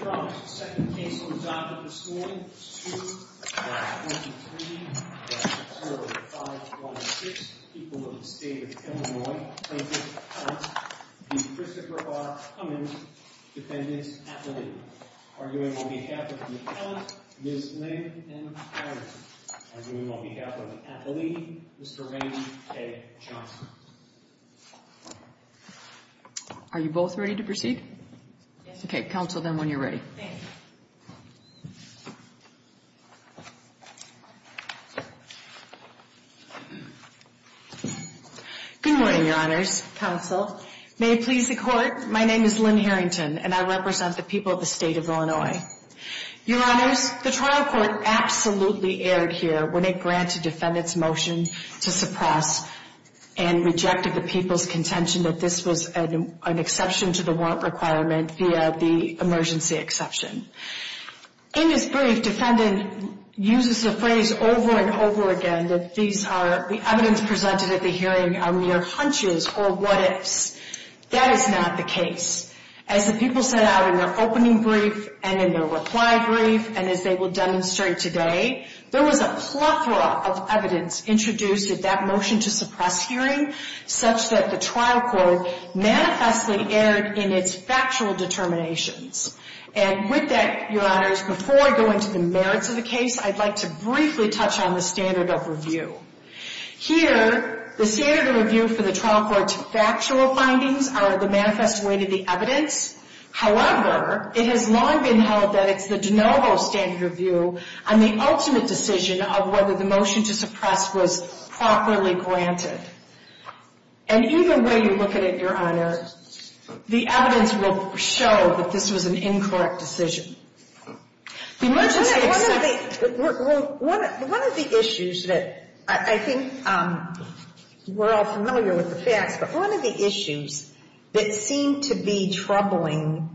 2-23-0526, people of the state of Illinois, plaintiff's counsel, D. Christopher R. Cummins, defendant's appellee. Arguing on behalf of the appellant, Ms. Lynn M. Hyren. Arguing on behalf of the appellee, Mr. Randy K. Johnson. Are you both ready to proceed? Okay, counsel, then, when you're ready. Good morning, your honors, counsel. May it please the court, my name is Lynn Harrington, and I represent the people of the state of Illinois. Your honors, the trial court absolutely erred here when it granted defendant's motion to suppress and rejected the people's contention that this was an exception to the warrant requirement via the emergency exception. In this brief, defendant uses the phrase over and over again that these are, the evidence presented at the hearing are mere hunches or what ifs. That is not the case. As the people set out in their opening brief and in their reply brief, and as they will demonstrate here today, there was a plethora of evidence introduced at that motion to suppress hearing such that the trial court manifestly erred in its factual determinations. And with that, your honors, before I go into the merits of the case, I'd like to briefly touch on the standard of review. Here, the standard of review for the trial court's factual findings are the manifest way to the evidence. However, it has long been held that it's the de novo standard of review and the ultimate decision of whether the motion to suppress was properly granted. And either way you look at it, your honors, the evidence will show that this was an incorrect decision. The emergency exception... One of the issues that I think we're all familiar with the facts, but one of the issues that seems to be troubling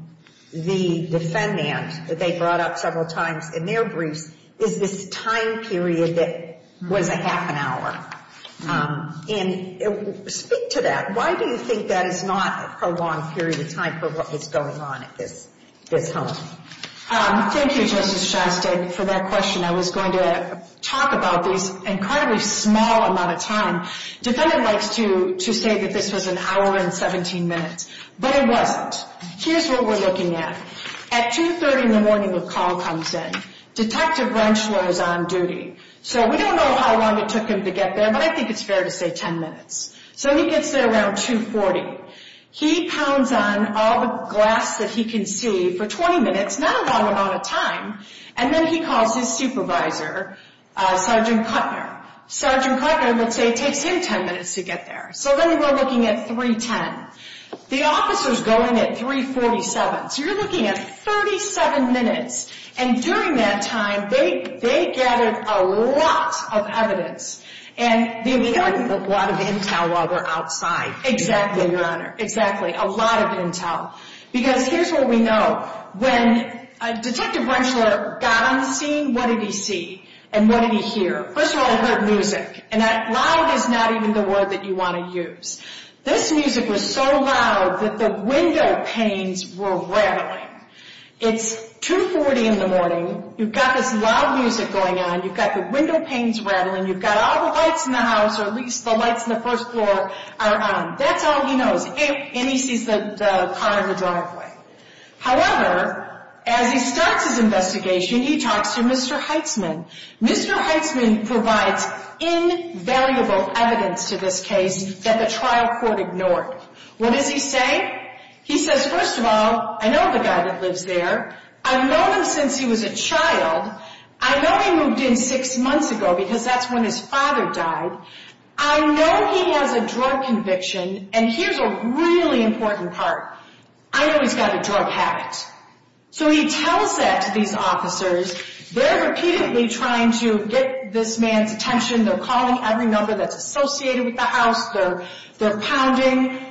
the defendant that they brought up several times in their briefs is this time period that was a half an hour. And speak to that. Why do you think that is not a prolonged period of time for what was going on at this home? Thank you, Justice Shastek, for that question. I was going to talk about this incredibly small amount of time. Defendant likes to say that this was an hour and 17 minutes. But it wasn't. Here's what we're looking at. At 2.30 in the morning the call comes in. Detective Wrenchler is on duty. So we don't know how long it took him to get there, but I think it's fair to say 10 minutes. So he gets there around 2.40. He pounds on all the glass that he can see for 20 minutes, not a long amount of time. And then he calls his supervisor, Sergeant Kuttner. Sergeant Kuttner would say it takes him 10 minutes to get there. So then we're looking at 3.10. The officer's going at 3.47. So you're looking at 37 minutes. And during that time they gathered a lot of evidence. And we don't get a lot of intel while we're outside. Exactly, Your Honor. Exactly. A lot of intel. Because here's what we know. When Detective Wrenchler got on the scene, what did he see and what did he hear? First of all, he heard music. And that loud is not even the word that you want to use. This music was so loud that the window panes were rattling. It's 2.40 in the morning. You've got this loud music going on. You've got the window panes rattling. You've got all the lights in the house, or at least the lights in the first floor are on. That's all he knows. And he sees the car in the driveway. However, as he starts his investigation, he talks to Mr. Heitzman. Mr. Heitzman provides invaluable evidence to this case that the trial court ignored. What does he say? He says, first of all, I know the guy that lives there. I've known him since he was a child. I know he moved in six months ago because that's when his father died. I know he has a drug conviction. And here's a really important part. I know he's got a drug habit. So he tells that to these officers. They're repeatedly trying to get this man's attention. They're calling every number that's associated with the house. They're pounding.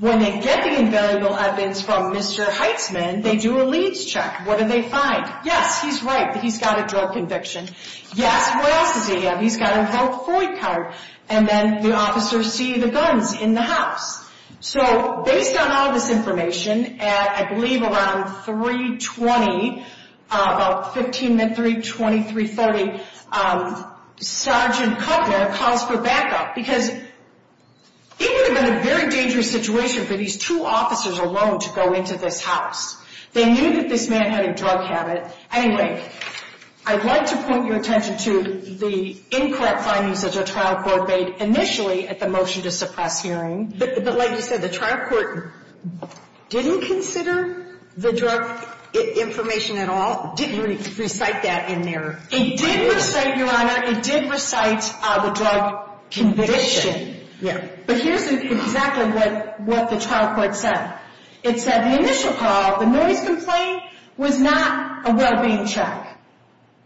When they get the invaluable evidence from Mr. Heitzman, they do a leads check. What do they find? Yes, he's right that he's got a drug conviction. Yes, what else does he have? He's got a vote for you card. And then the officers see the guns in the house. So based on all this information, at I believe around 3.20, about 3.20, 3.30, Sergeant Kuttner calls for backup. Because it would have been a very dangerous situation for these two officers alone to go into this house. They knew that this man had a drug habit. Anyway, I'd like to point your attention to the incorrect findings that the trial court made initially at the motion to suppress hearing. But like you said, the trial court didn't consider the drug information at all? Didn't really recite that in there? It did recite, Your Honor, it did recite the drug conviction. Yeah. But here's exactly what the trial court said. It said the initial call, the noise complaint, was not a well-being check.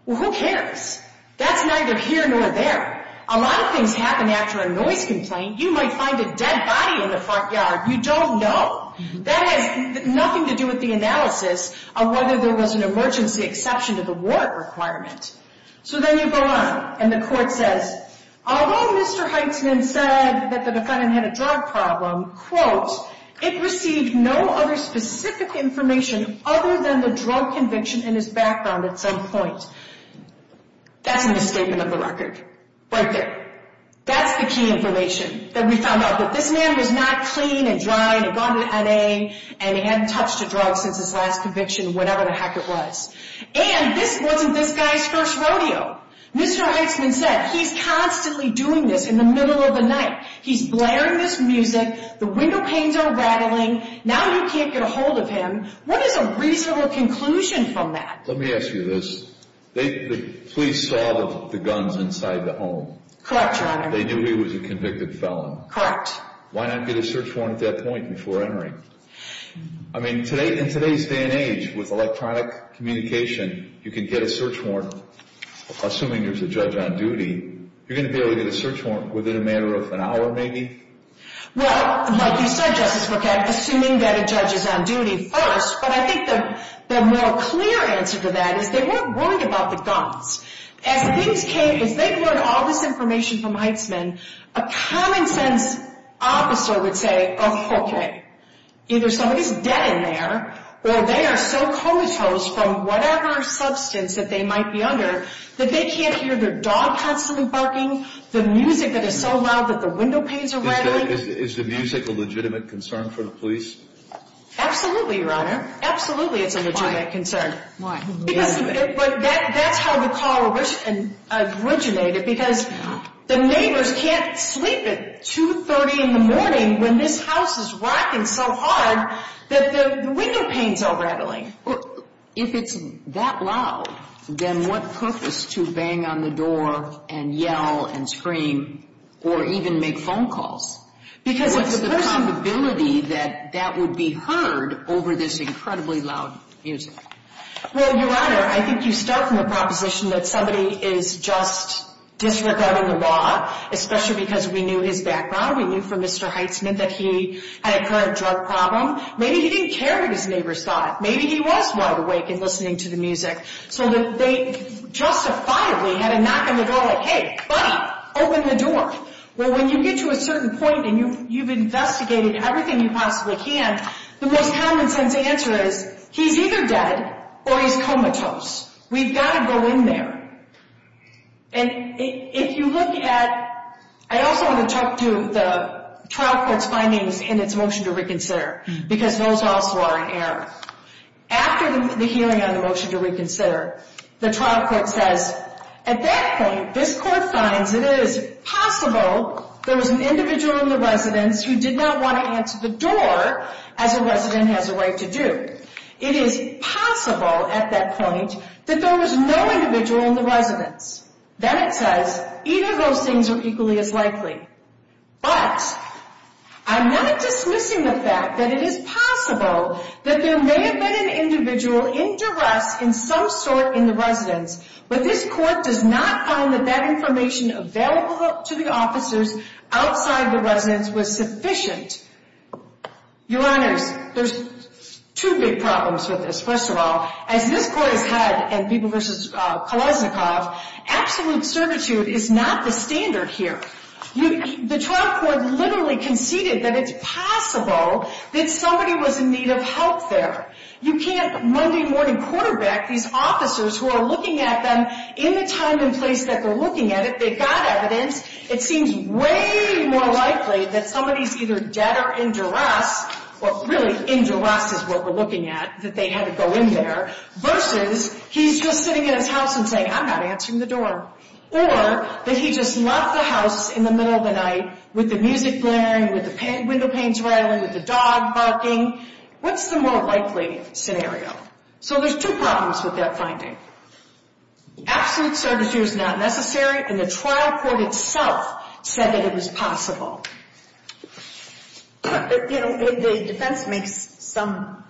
Well, who cares? That's neither here nor there. A lot of things happen after a noise complaint. You might find a dead body in the front yard. You don't know. That has nothing to do with the analysis of whether there was an emergency exception to the warrant requirement. So then you go on, and the court says, although Mr. Heitzman said that the defendant had a drug problem, quote, it received no other specific information other than the drug conviction in his background at some point. That's an escapement of the record. Right there. That's the key information that we found out, that this man was not clean and dry and had gone to the N.A. and he hadn't touched a drug since his last conviction, whatever the heck it was. And this wasn't this guy's first rodeo. Mr. Heitzman said he's constantly doing this in the middle of the night. He's blaring this music. The window panes are rattling. Now you can't get a hold of him. What is a reasonable conclusion from that? Let me ask you this. The police saw the guns inside the home. Correct, Your Honor. They knew he was a convicted felon. Correct. Why not get a search warrant at that point before entering? I mean, in today's day and age, with electronic communication, you can get a search warrant. Assuming there's a judge on duty, you're going to be able to get a search warrant within a matter of an hour, maybe? Well, like you said, Justice Brokamp, assuming that a judge is on duty first. But I think the more clear answer to that is they weren't worried about the guns. As things came, as they learned all this information from Heitzman, a common sense officer would say, oh, okay, either somebody's dead in there or they are so comatose from whatever substance that they might be under that they can't hear their dog constantly barking, the music that is so loud that the window panes are rattling. Is the music a legitimate concern for the police? Absolutely, Your Honor. Absolutely it's a legitimate concern. Why? Because that's how the call originated, because the neighbors can't sleep at 2.30 in the morning when this house is rocking so hard that the window panes are rattling. If it's that loud, then what purpose to bang on the door and yell and scream or even make phone calls? What's the probability that that would be heard over this incredibly loud music? Well, Your Honor, I think you start from the proposition that somebody is just disregarding the law, especially because we knew his background. We knew from Mr. Heitzman that he had a current drug problem. Maybe he didn't care what his neighbors thought. Maybe he was wide awake and listening to the music. So they justifiably had a knock on the door like, hey, buddy, open the door. Well, when you get to a certain point and you've investigated everything you possibly can, the most common sense answer is he's either dead or he's comatose. We've got to go in there. And if you look at – I also want to talk to the trial court's findings in its motion to reconsider, because those also are in error. After the hearing on the motion to reconsider, the trial court says, at that point this court finds it is possible there was an individual in the residence who did not want to answer the door as a resident has a right to do. It is possible at that point that there was no individual in the residence. Then it says either of those things are equally as likely. But I'm not dismissing the fact that it is possible that there may have been an individual in duress in some sort in the residence, but this court does not find that that information available to the officers outside the residence was sufficient. Your Honors, there's two big problems with this. First of all, as this court has had in Peeble v. Kaluznikoff, absolute servitude is not the standard here. The trial court literally conceded that it's possible that somebody was in need of help there. You can't Monday morning quarterback these officers who are looking at them in the time and place that they're looking at it. If they've got evidence, it seems way more likely that somebody's either dead or in duress, or really in duress is what we're looking at, that they had to go in there, versus he's just sitting in his house and saying, I'm not answering the door, or that he just left the house in the middle of the night with the music blaring, with the window panes rattling, with the dog barking. What's the more likely scenario? So there's two problems with that finding. Absolute servitude is not necessary, and the trial court itself said that it was possible. The defense makes some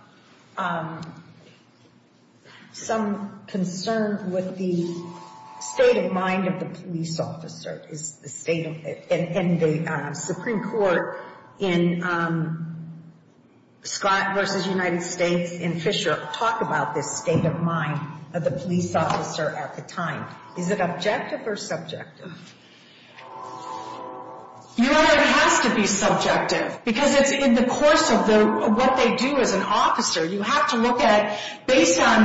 concern with the state of mind of the police officer, and the Supreme Court in Scott versus United States in Fisher talked about this state of mind of the police officer at the time. Is it objective or subjective? Your Honor, it has to be subjective, because it's in the course of what they do as an officer. You have to look at, based on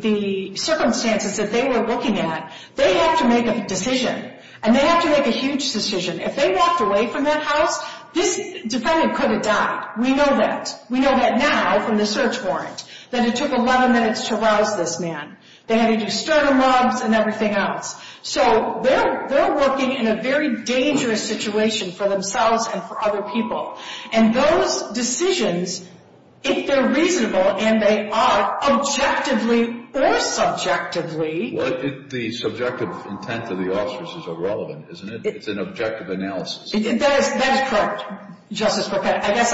the circumstances that they were looking at, they have to make a decision, and they have to make a huge decision. If they walked away from that house, this defendant could have died. We know that. We know that now from the search warrant, that it took 11 minutes to rouse this man. They had to do sternum rubs and everything else. So they're working in a very dangerous situation for themselves and for other people, and those decisions, if they're reasonable and they are, objectively or subjectively. Well, the subjective intent of the officers is irrelevant, isn't it? It's an objective analysis. That is correct, Justice Brokette. I guess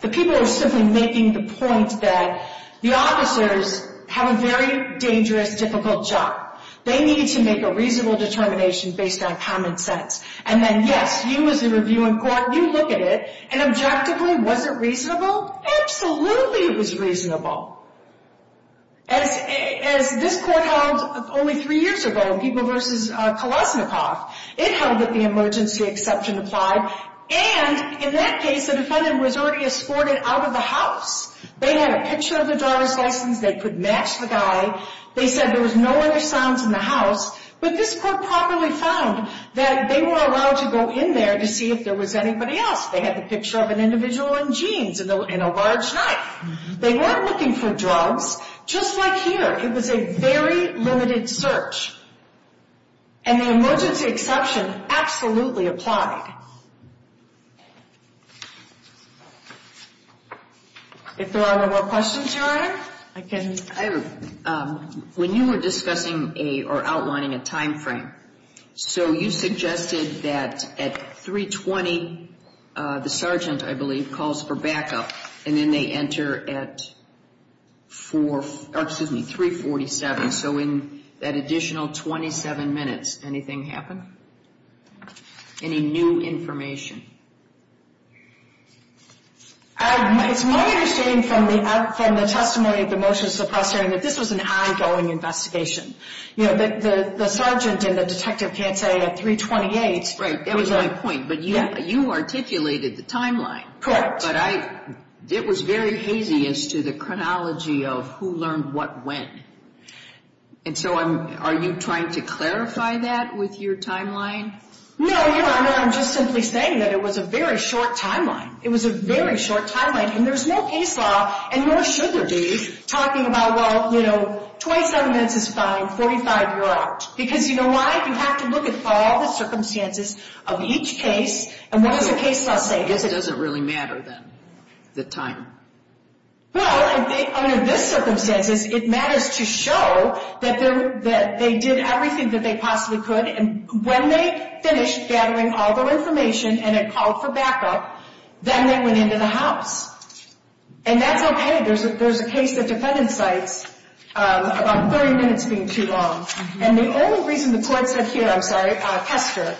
the people are simply making the point that the officers have a very dangerous, difficult job. They need to make a reasonable determination based on common sense, and then, yes, you as a review in court, you look at it, and objectively, was it reasonable? Absolutely it was reasonable. As this court held only three years ago, People v. Kolesnikoff, it held that the emergency exception applied, and in that case, the defendant was already escorted out of the house. They had a picture of the driver's license. They could match the guy. They said there was no other sounds in the house, but this court properly found that they were allowed to go in there to see if there was anybody else. They had the picture of an individual in jeans and a large knife. They weren't looking for drugs, just like here. It was a very limited search, and the emergency exception absolutely applied. If there are no more questions, Your Honor, I can... When you were discussing or outlining a time frame, so you suggested that at 3.20, the sergeant, I believe, calls for backup, and then they enter at 3.47, so in that additional 27 minutes, anything happen? Any new information? It's my understanding from the testimony of the motions of the press hearing that this was an ongoing investigation. The sergeant and the detective can't say at 3.28... Right, that was my point, but you articulated the timeline. Correct. But it was very hazy as to the chronology of who learned what when, and so are you trying to clarify that with your timeline? No, Your Honor, I'm just simply saying that it was a very short timeline. It was a very short timeline, and there's no case law, and nor should there be, talking about, well, you know, 27 minutes is fine, 45, you're out, because you know why? You have to look at all the circumstances of each case, and what does the case law say? I guess it doesn't really matter, then, the time. Well, I mean, in this circumstance, it matters to show that they did everything that they possibly could, and when they finished gathering all their information and had called for backup, then they went into the house, and that's okay. There's a case that defendant cites about 30 minutes being too long, and the only reason the court said here, I'm sorry, Kester,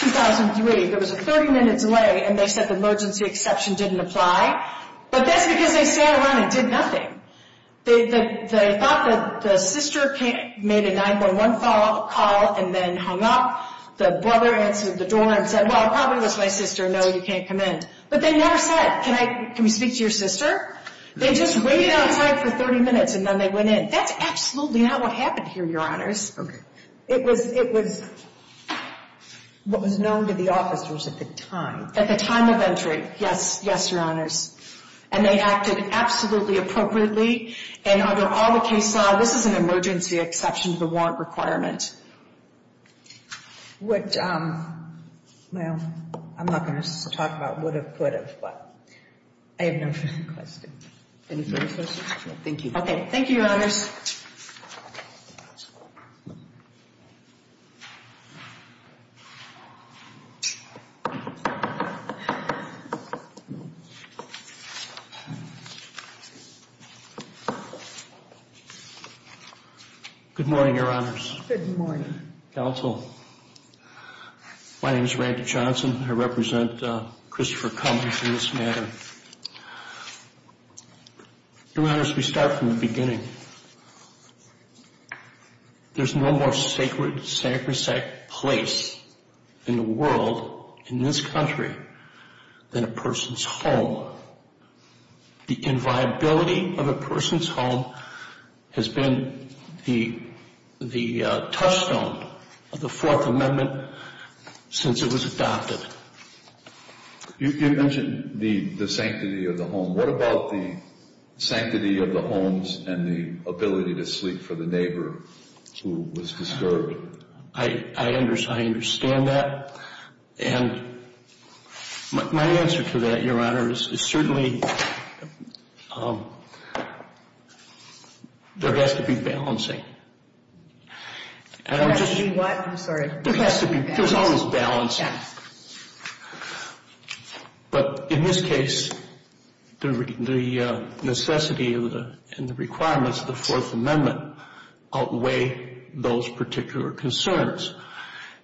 2003, there was a 30-minute delay, and they said the emergency exception didn't apply, but that's because they sat around and did nothing. They thought that the sister made a 911 call and then hung up. The brother answered the door and said, well, it probably was my sister. No, you can't come in, but they never said, can we speak to your sister? They just waited outside for 30 minutes, and then they went in. That's absolutely not what happened here, Your Honors. It was what was known to the officers at the time. At the time of entry, yes, Your Honors. And they acted absolutely appropriately, and under all the case law, this is an emergency exception to the warrant requirement. Well, I'm not going to talk about would have, could have, but I have no further questions. Any further questions? No, thank you. Okay, thank you, Your Honors. Good morning, Your Honors. Good morning. Counsel, my name is Randy Johnson. I represent Christopher Cummings in this matter. Your Honors, we start from the beginning. There's no more sacred place in the world, in this country, than a person's home. The inviability of a person's home has been the touchstone of the Fourth Amendment since it was adopted. You mentioned the sanctity of the home. What about the sanctity of the homes and the ability to sleep for the neighbor who was disturbed? I understand that, and my answer to that, Your Honors, is certainly there has to be balancing. There has to be what? I'm sorry. There has to be. There's always balancing. But in this case, the necessity and the requirements of the Fourth Amendment outweigh those particular concerns.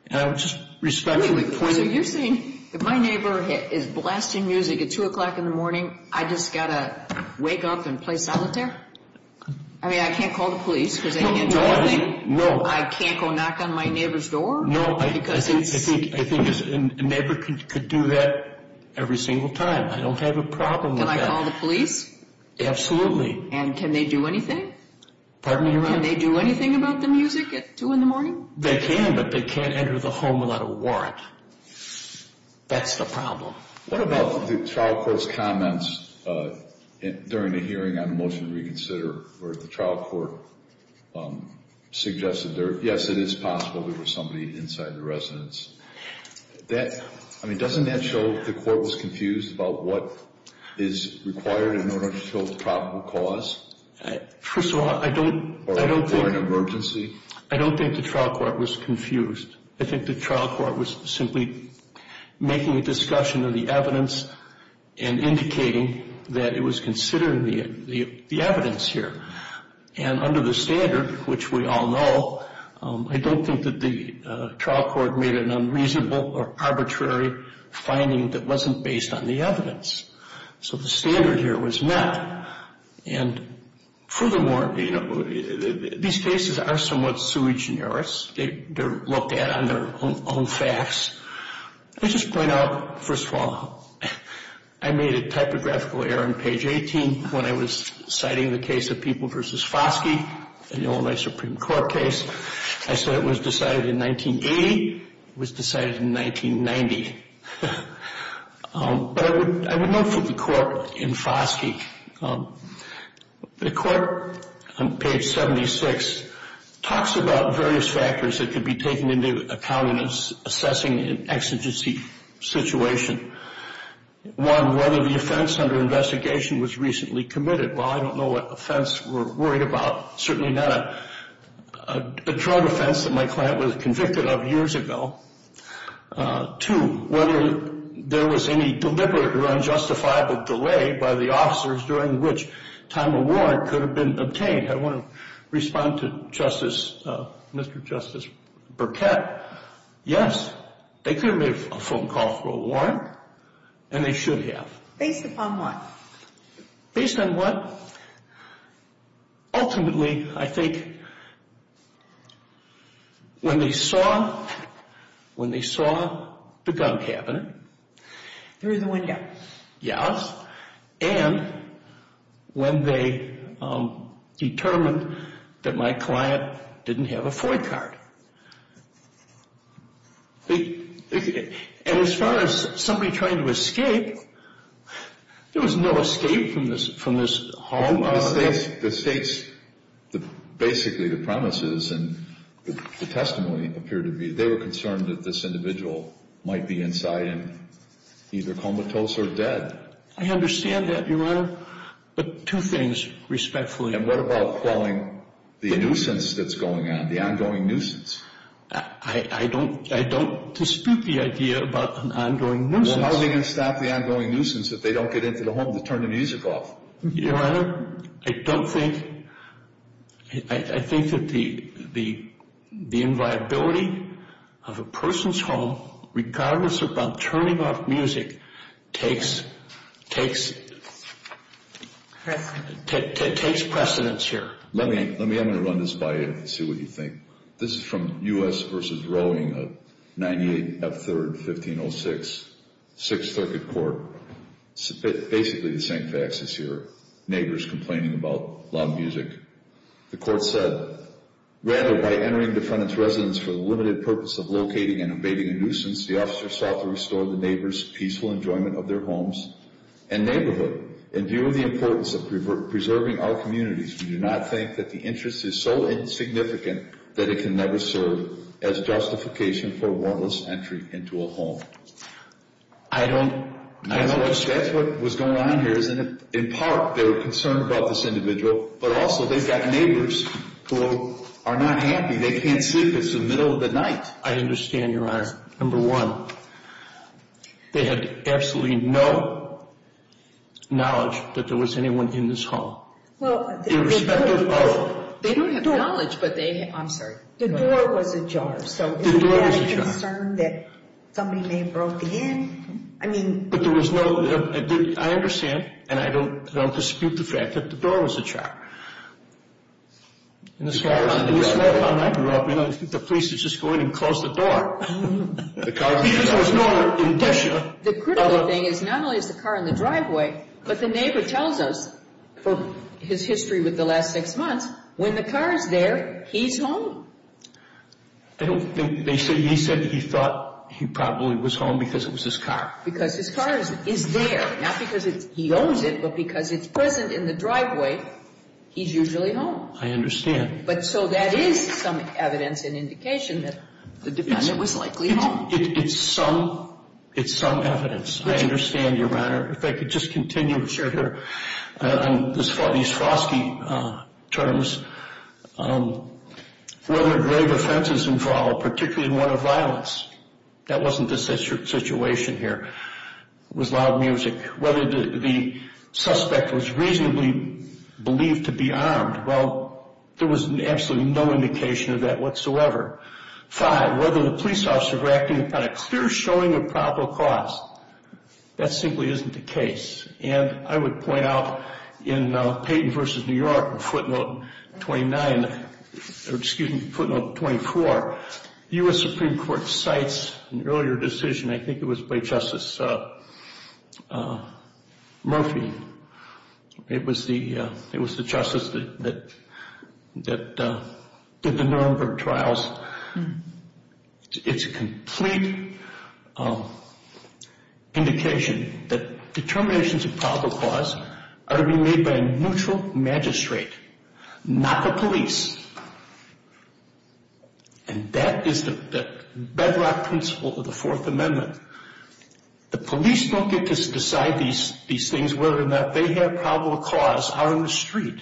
And I would just respectfully point out. So you're saying if my neighbor is blasting music at 2 o'clock in the morning, I just got to wake up and play solitaire? I mean, I can't call the police because they can't do anything? No. I can't go knock on my neighbor's door? No, I think a neighbor could do that every single time. I don't have a problem with that. Can I call the police? Absolutely. And can they do anything? Pardon me, Your Honor? Can they do anything about the music at 2 in the morning? They can, but they can't enter the home without a warrant. That's the problem. What about the trial court's comments during the hearing on the motion to reconsider where the trial court suggested, yes, it is possible there was somebody inside the residence. I mean, doesn't that show the court was confused about what is required in order to fill the probable cause? First of all, I don't think. Or an emergency? I don't think the trial court was confused. I think the trial court was simply making a discussion of the evidence and indicating that it was considering the evidence here. And under the standard, which we all know, I don't think that the trial court made an unreasonable or arbitrary finding that wasn't based on the evidence. So the standard here was met. And furthermore, these cases are somewhat sui generis. They're looked at on their own facts. Let me just point out, first of all, I made a typographical error on page 18 when I was citing the case of People v. Foskey in the Illinois Supreme Court case. I said it was decided in 1980. It was decided in 1990. But I would note for the court in Foskey, the court on page 76 talks about various factors that could be taken into account in assessing an exigency situation. One, whether the offense under investigation was recently committed. Well, I don't know what offense we're worried about, certainly not a drug offense that my client was convicted of years ago. Two, whether there was any deliberate or unjustifiable delay by the officers during which time a warrant could have been obtained. I want to respond to Mr. Justice Burkett. Yes, they could have made a phone call for a warrant, and they should have. Based upon what? Based on what? Ultimately, I think when they saw the gun cabinet. Through the window. Yes. And when they determined that my client didn't have a FOIA card. And as far as somebody trying to escape, there was no escape from this home. The states, basically the premises and the testimony appear to be, they were concerned that this individual might be inside and either comatose or dead. I understand that, Your Honor, but two things respectfully. And what about calling the nuisance that's going on, the ongoing nuisance? I don't dispute the idea about an ongoing nuisance. Well, how are they going to stop the ongoing nuisance if they don't get into the home to turn the music off? Your Honor, I don't think, I think that the inviolability of a person's home, regardless of them turning off music, takes precedence here. Let me, I'm going to run this by you and see what you think. This is from U.S. v. Rowing of 98 F. 3rd, 1506, Sixth Circuit Court. Basically the same facts as your neighbors complaining about loud music. The court said, Rather, by entering the defendant's residence for the limited purpose of locating and evading a nuisance, the officer sought to restore the neighbors' peaceful enjoyment of their homes and neighborhood. In view of the importance of preserving our communities, we do not think that the interest is so insignificant that it can never serve as justification for a warrantless entry into a home. I don't, I don't understand. That's what was going on here. In part, they were concerned about this individual, but also they've got neighbors who are not happy. They can't sleep. It's the middle of the night. I understand, Your Honor. Number one, they had absolutely no knowledge that there was anyone in this home. Well, the door. Irrespective of. They don't have knowledge, but they, I'm sorry. The door was ajar. The door was ajar. So is that a concern that somebody may have broke in? I mean. But there was no, I understand, and I don't dispute the fact that the door was ajar. As far as I grew up, the police would just go in and close the door. Because there was no indicia. The critical thing is not only is the car in the driveway, but the neighbor tells us, for his history with the last six months, when the car is there, he's home. I don't think. He said he thought he probably was home because it was his car. Because his car is there. Not because he owns it, but because it's present in the driveway, he's usually home. I understand. But so that is some evidence and indication that the defendant was likely home. It's some evidence. I understand, Your Honor. If I could just continue. On these frosty terms, whether grave offenses involved, particularly one of violence. That wasn't the situation here. It was loud music. Whether the suspect was reasonably believed to be armed. Well, there was absolutely no indication of that whatsoever. Five, whether the police officer reacted upon a clear showing of probable cause. That simply isn't the case. And I would point out in Payton v. New York, footnote 29, or excuse me, footnote 24, the U.S. Supreme Court cites an earlier decision, I think it was by Justice Murphy. It was the justice that did the Nuremberg trials. It's a complete indication that determinations of probable cause are to be made by a neutral magistrate, not the police. And that is the bedrock principle of the Fourth Amendment. The police don't get to decide these things, whether or not they have probable cause out on the street.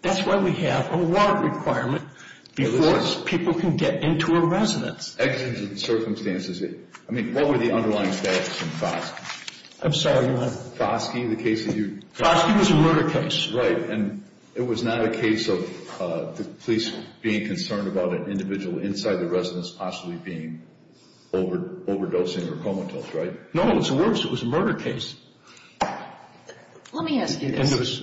That's why we have a warrant requirement before people can get into a residence. Exigent circumstances. I mean, what were the underlying statuses in Foskey? I'm sorry, your Honor. Foskey, the case that you. Foskey was a murder case. Right. And it was not a case of the police being concerned about an individual inside the residence possibly being overdosing or comatose, right? No, it was a murder case. Let me ask you this.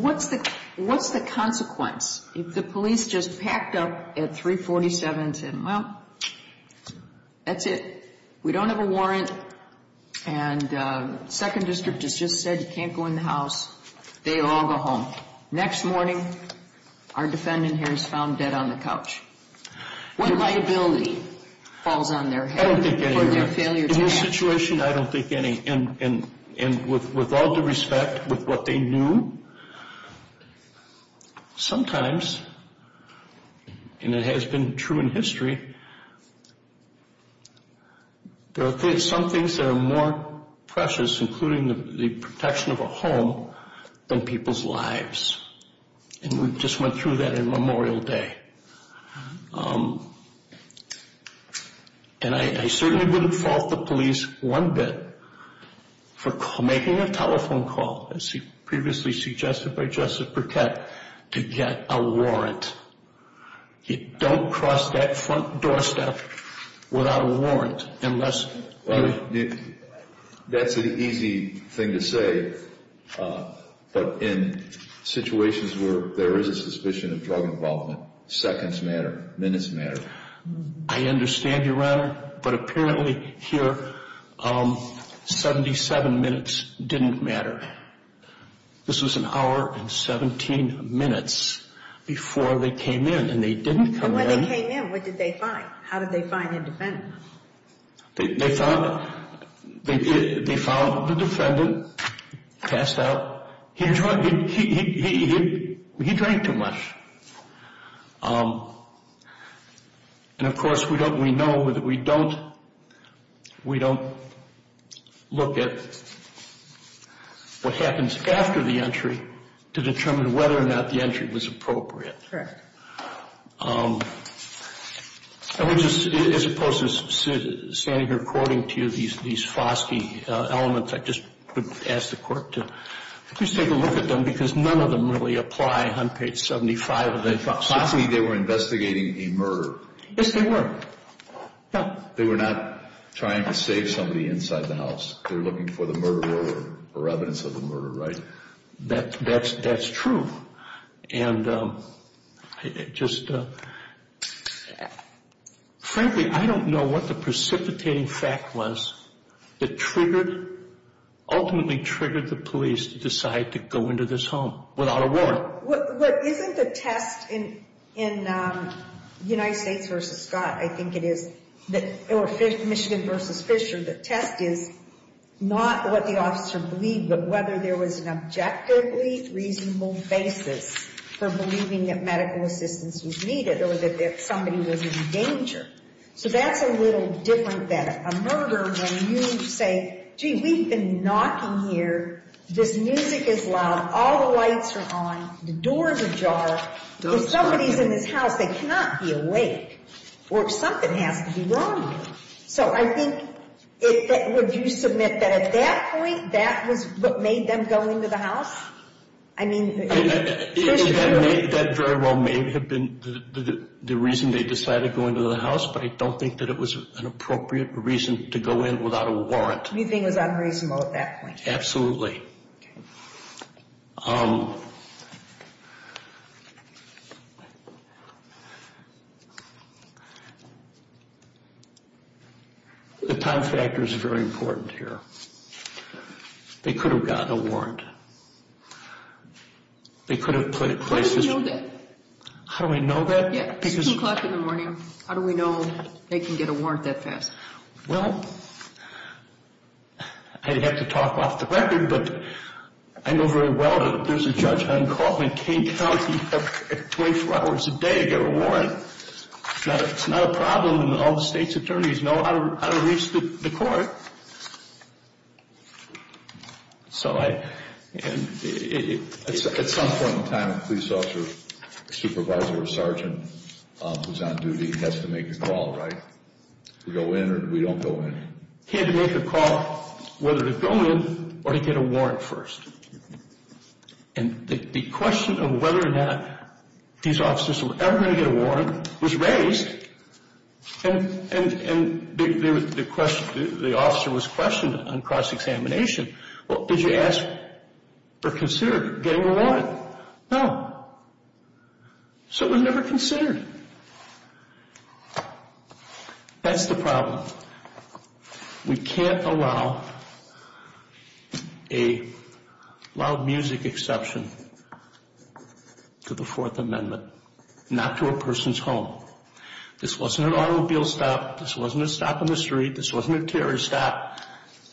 What's the consequence if the police just packed up at 347 and said, well, that's it, we don't have a warrant, and 2nd District has just said you can't go in the house, they all go home. Next morning, our defendant here is found dead on the couch. What liability falls on their head for their failure to act? In this situation, I don't think any. And with all due respect, with what they knew, sometimes, and it has been true in history, there are some things that are more precious, including the protection of a home, than people's lives. And we just went through that in Memorial Day. And I certainly wouldn't fault the police one bit for making a telephone call, as previously suggested by Justice Burkett, to get a warrant. You don't cross that front doorstep without a warrant. That's an easy thing to say, but in situations where there is a suspicion of drug involvement, seconds matter, minutes matter. I understand, Your Honor, but apparently here, 77 minutes didn't matter. This was an hour and 17 minutes before they came in, and they didn't come in. When they came in, what did they find? How did they find the defendant? They found the defendant passed out. He drank too much. And of course, we know that we don't look at what happens after the entry to determine whether or not the entry was appropriate. Correct. As opposed to standing here quoting to you these Foskey elements, I just would ask the Court to at least take a look at them, because none of them really apply on page 75 of the Foskey. Foskey, they were investigating a murder. Yes, they were. They were not trying to save somebody inside the house. They were looking for the murderer or evidence of the murder, right? That's true. And just frankly, I don't know what the precipitating fact was that triggered, ultimately triggered the police to decide to go into this home without a warrant. Isn't the test in United States v. Scott, I think it is, or Michigan v. Fisher, the test is not what the officer believed, but whether there was an objectively reasonable basis for believing that medical assistance was needed or that somebody was in danger. So that's a little different than a murder when you say, gee, we've been knocking here. This music is loud. All the lights are on. The door's ajar. If somebody's in this house, they cannot be awake, or something has to be wrong. So I think, would you submit that at that point, that was what made them go into the house? I mean, That very well may have been the reason they decided to go into the house, but I don't think that it was an appropriate reason to go in without a warrant. You think it was unreasonable at that point? Absolutely. Okay. The time factor is very important here. They could have gotten a warrant. They could have put it in place. How do you know that? How do I know that? Yeah, it's 2 o'clock in the morning. How do we know they can get a warrant that fast? Well, I'd have to talk off the record, but I know very well that there's a judge on call in Kane County at 24 hours a day to get a warrant. It's not a problem that all the state's attorneys know how to reach the court. At some point in time, a police officer, a supervisor, or a sergeant who's on duty has to make a call, right? We go in or we don't go in. He had to make a call whether to go in or to get a warrant first. And the question of whether or not these officers were ever going to get a warrant was raised, and the officer was questioned on cross-examination. Well, did you ask or consider getting a warrant? No. So it was never considered. That's the problem. We can't allow a loud music exception to the Fourth Amendment, not to a person's home. This wasn't an automobile stop. This wasn't a stop in the street. This wasn't a terrorist stop.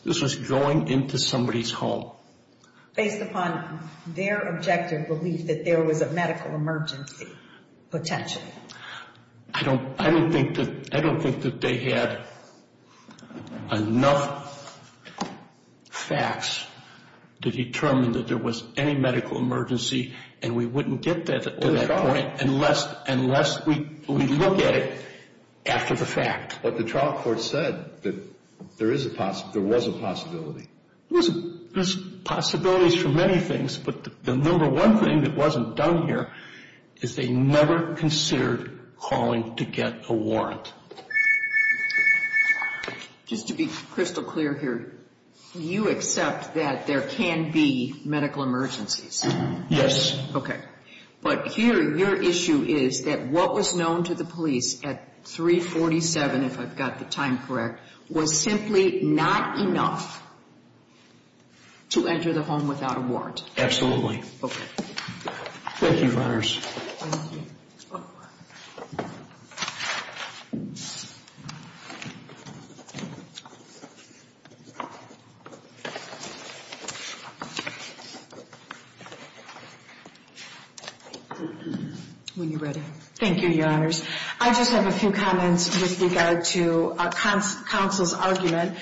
This was going into somebody's home. Based upon their objective belief that there was a medical emergency, potentially. I don't think that they had enough facts to determine that there was any medical emergency, and we wouldn't get to that point unless we look at it after the fact. But the trial court said that there was a possibility. There's possibilities for many things, but the number one thing that wasn't done here is they never considered calling to get a warrant. Just to be crystal clear here, you accept that there can be medical emergencies? Yes. Okay. But here your issue is that what was known to the police at 347, if I've got the time correct, was simply not enough to enter the home without a warrant. Absolutely. Okay. Thank you, Your Honors. Thank you. When you're ready. Thank you, Your Honors. I just have a few comments with regard to counsel's argument.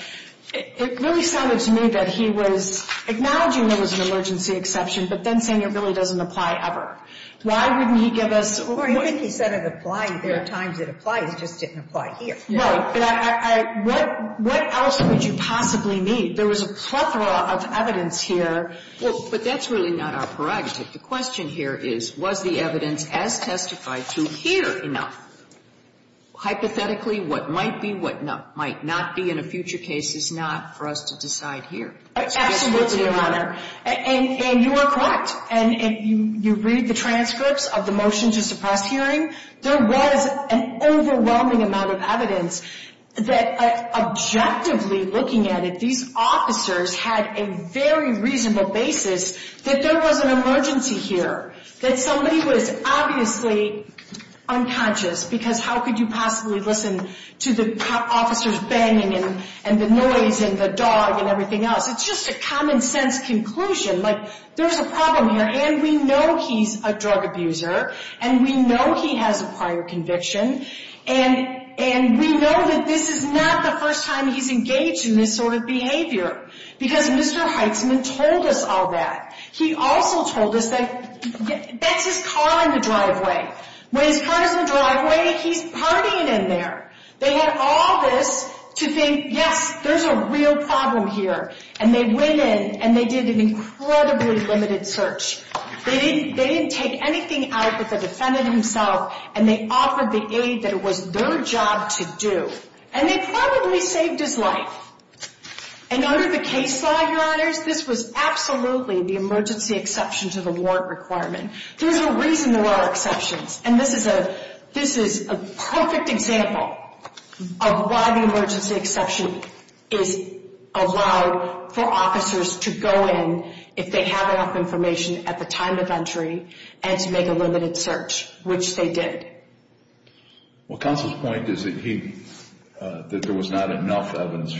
It really sounded to me that he was acknowledging there was an emergency exception, but then saying it really doesn't apply ever. Why wouldn't he give us more? Well, I think he said it applied. There are times it applies. It just didn't apply here. Right. But I – what else would you possibly need? There was a plethora of evidence here. Well, but that's really not our prerogative. The question here is, was the evidence as testified to here enough? Hypothetically, what might be, what might not be in a future case is not for us to decide here. Absolutely, Your Honor. And you are correct. And you read the transcripts of the motion to suppress hearing. There was an overwhelming amount of evidence that objectively looking at it, these officers had a very reasonable basis that there was an emergency here, that somebody was obviously unconscious, because how could you possibly listen to the officers banging and the noise and the dog and everything else? It's just a common-sense conclusion. Like, there's a problem here, and we know he's a drug abuser, and we know he has a prior conviction, and we know that this is not the first time he's engaged in this sort of behavior, because Mr. Heitzman told us all that. He also told us that that's his car in the driveway. When his car is in the driveway, he's partying in there. They had all this to think, yes, there's a real problem here. And they went in, and they did an incredibly limited search. They didn't take anything out but the defendant himself, and they offered the aid that it was their job to do. And they probably saved his life. And under the case law, Your Honors, this was absolutely the emergency exception to the warrant requirement. There's a reason there are exceptions, and this is a perfect example of why the emergency exception is allowed for officers to go in if they have enough information at the time of entry and to make a limited search, which they did. Well, Counsel's point is that there was not enough evidence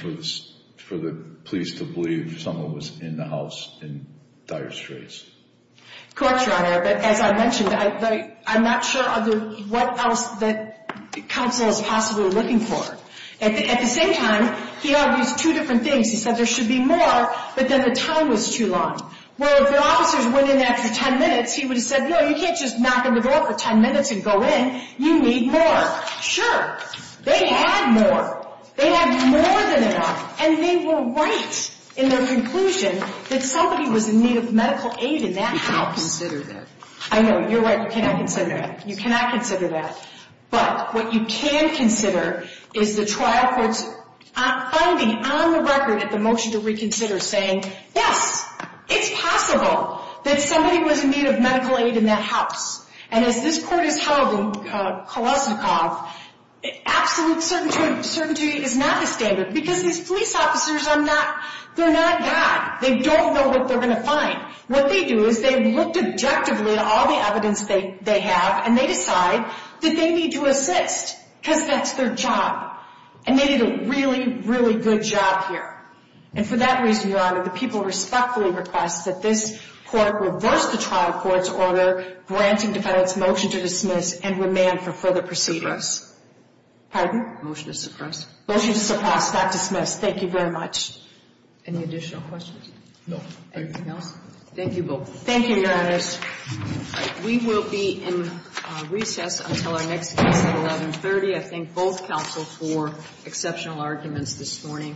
for the police to believe someone was in the house in dire straits. Correct, Your Honor, but as I mentioned, I'm not sure what else that Counsel is possibly looking for. At the same time, he argues two different things. He said there should be more, but then the time was too long. Well, if the officers went in after 10 minutes, he would have said, No, you can't just knock on the door for 10 minutes and go in. You need more. They had more. They had more than enough, and they were right in their conclusion that somebody was in need of medical aid in that house. You cannot consider that. I know. You're right. You cannot consider that. You cannot consider that. But what you can consider is the trial court's finding on the record at the motion to reconsider saying, Yes, it's possible that somebody was in need of medical aid in that house. And as this Court has held in Kolesnikov, absolute certainty is not the standard because these police officers are not God. They don't know what they're going to find. What they do is they looked objectively at all the evidence they have, and they decide that they need to assist because that's their job. And they did a really, really good job here. And for that reason, Your Honor, the people respectfully request that this Court reverse the trial court's order granting defendants' motion to dismiss and remand for further proceedings. Pardon? Motion to suppress. Motion to suppress, not dismiss. Thank you very much. Any additional questions? No. Anything else? Thank you both. Thank you, Your Honors. We will be in recess until our next case at 1130. I thank both counsels for exceptional arguments this morning.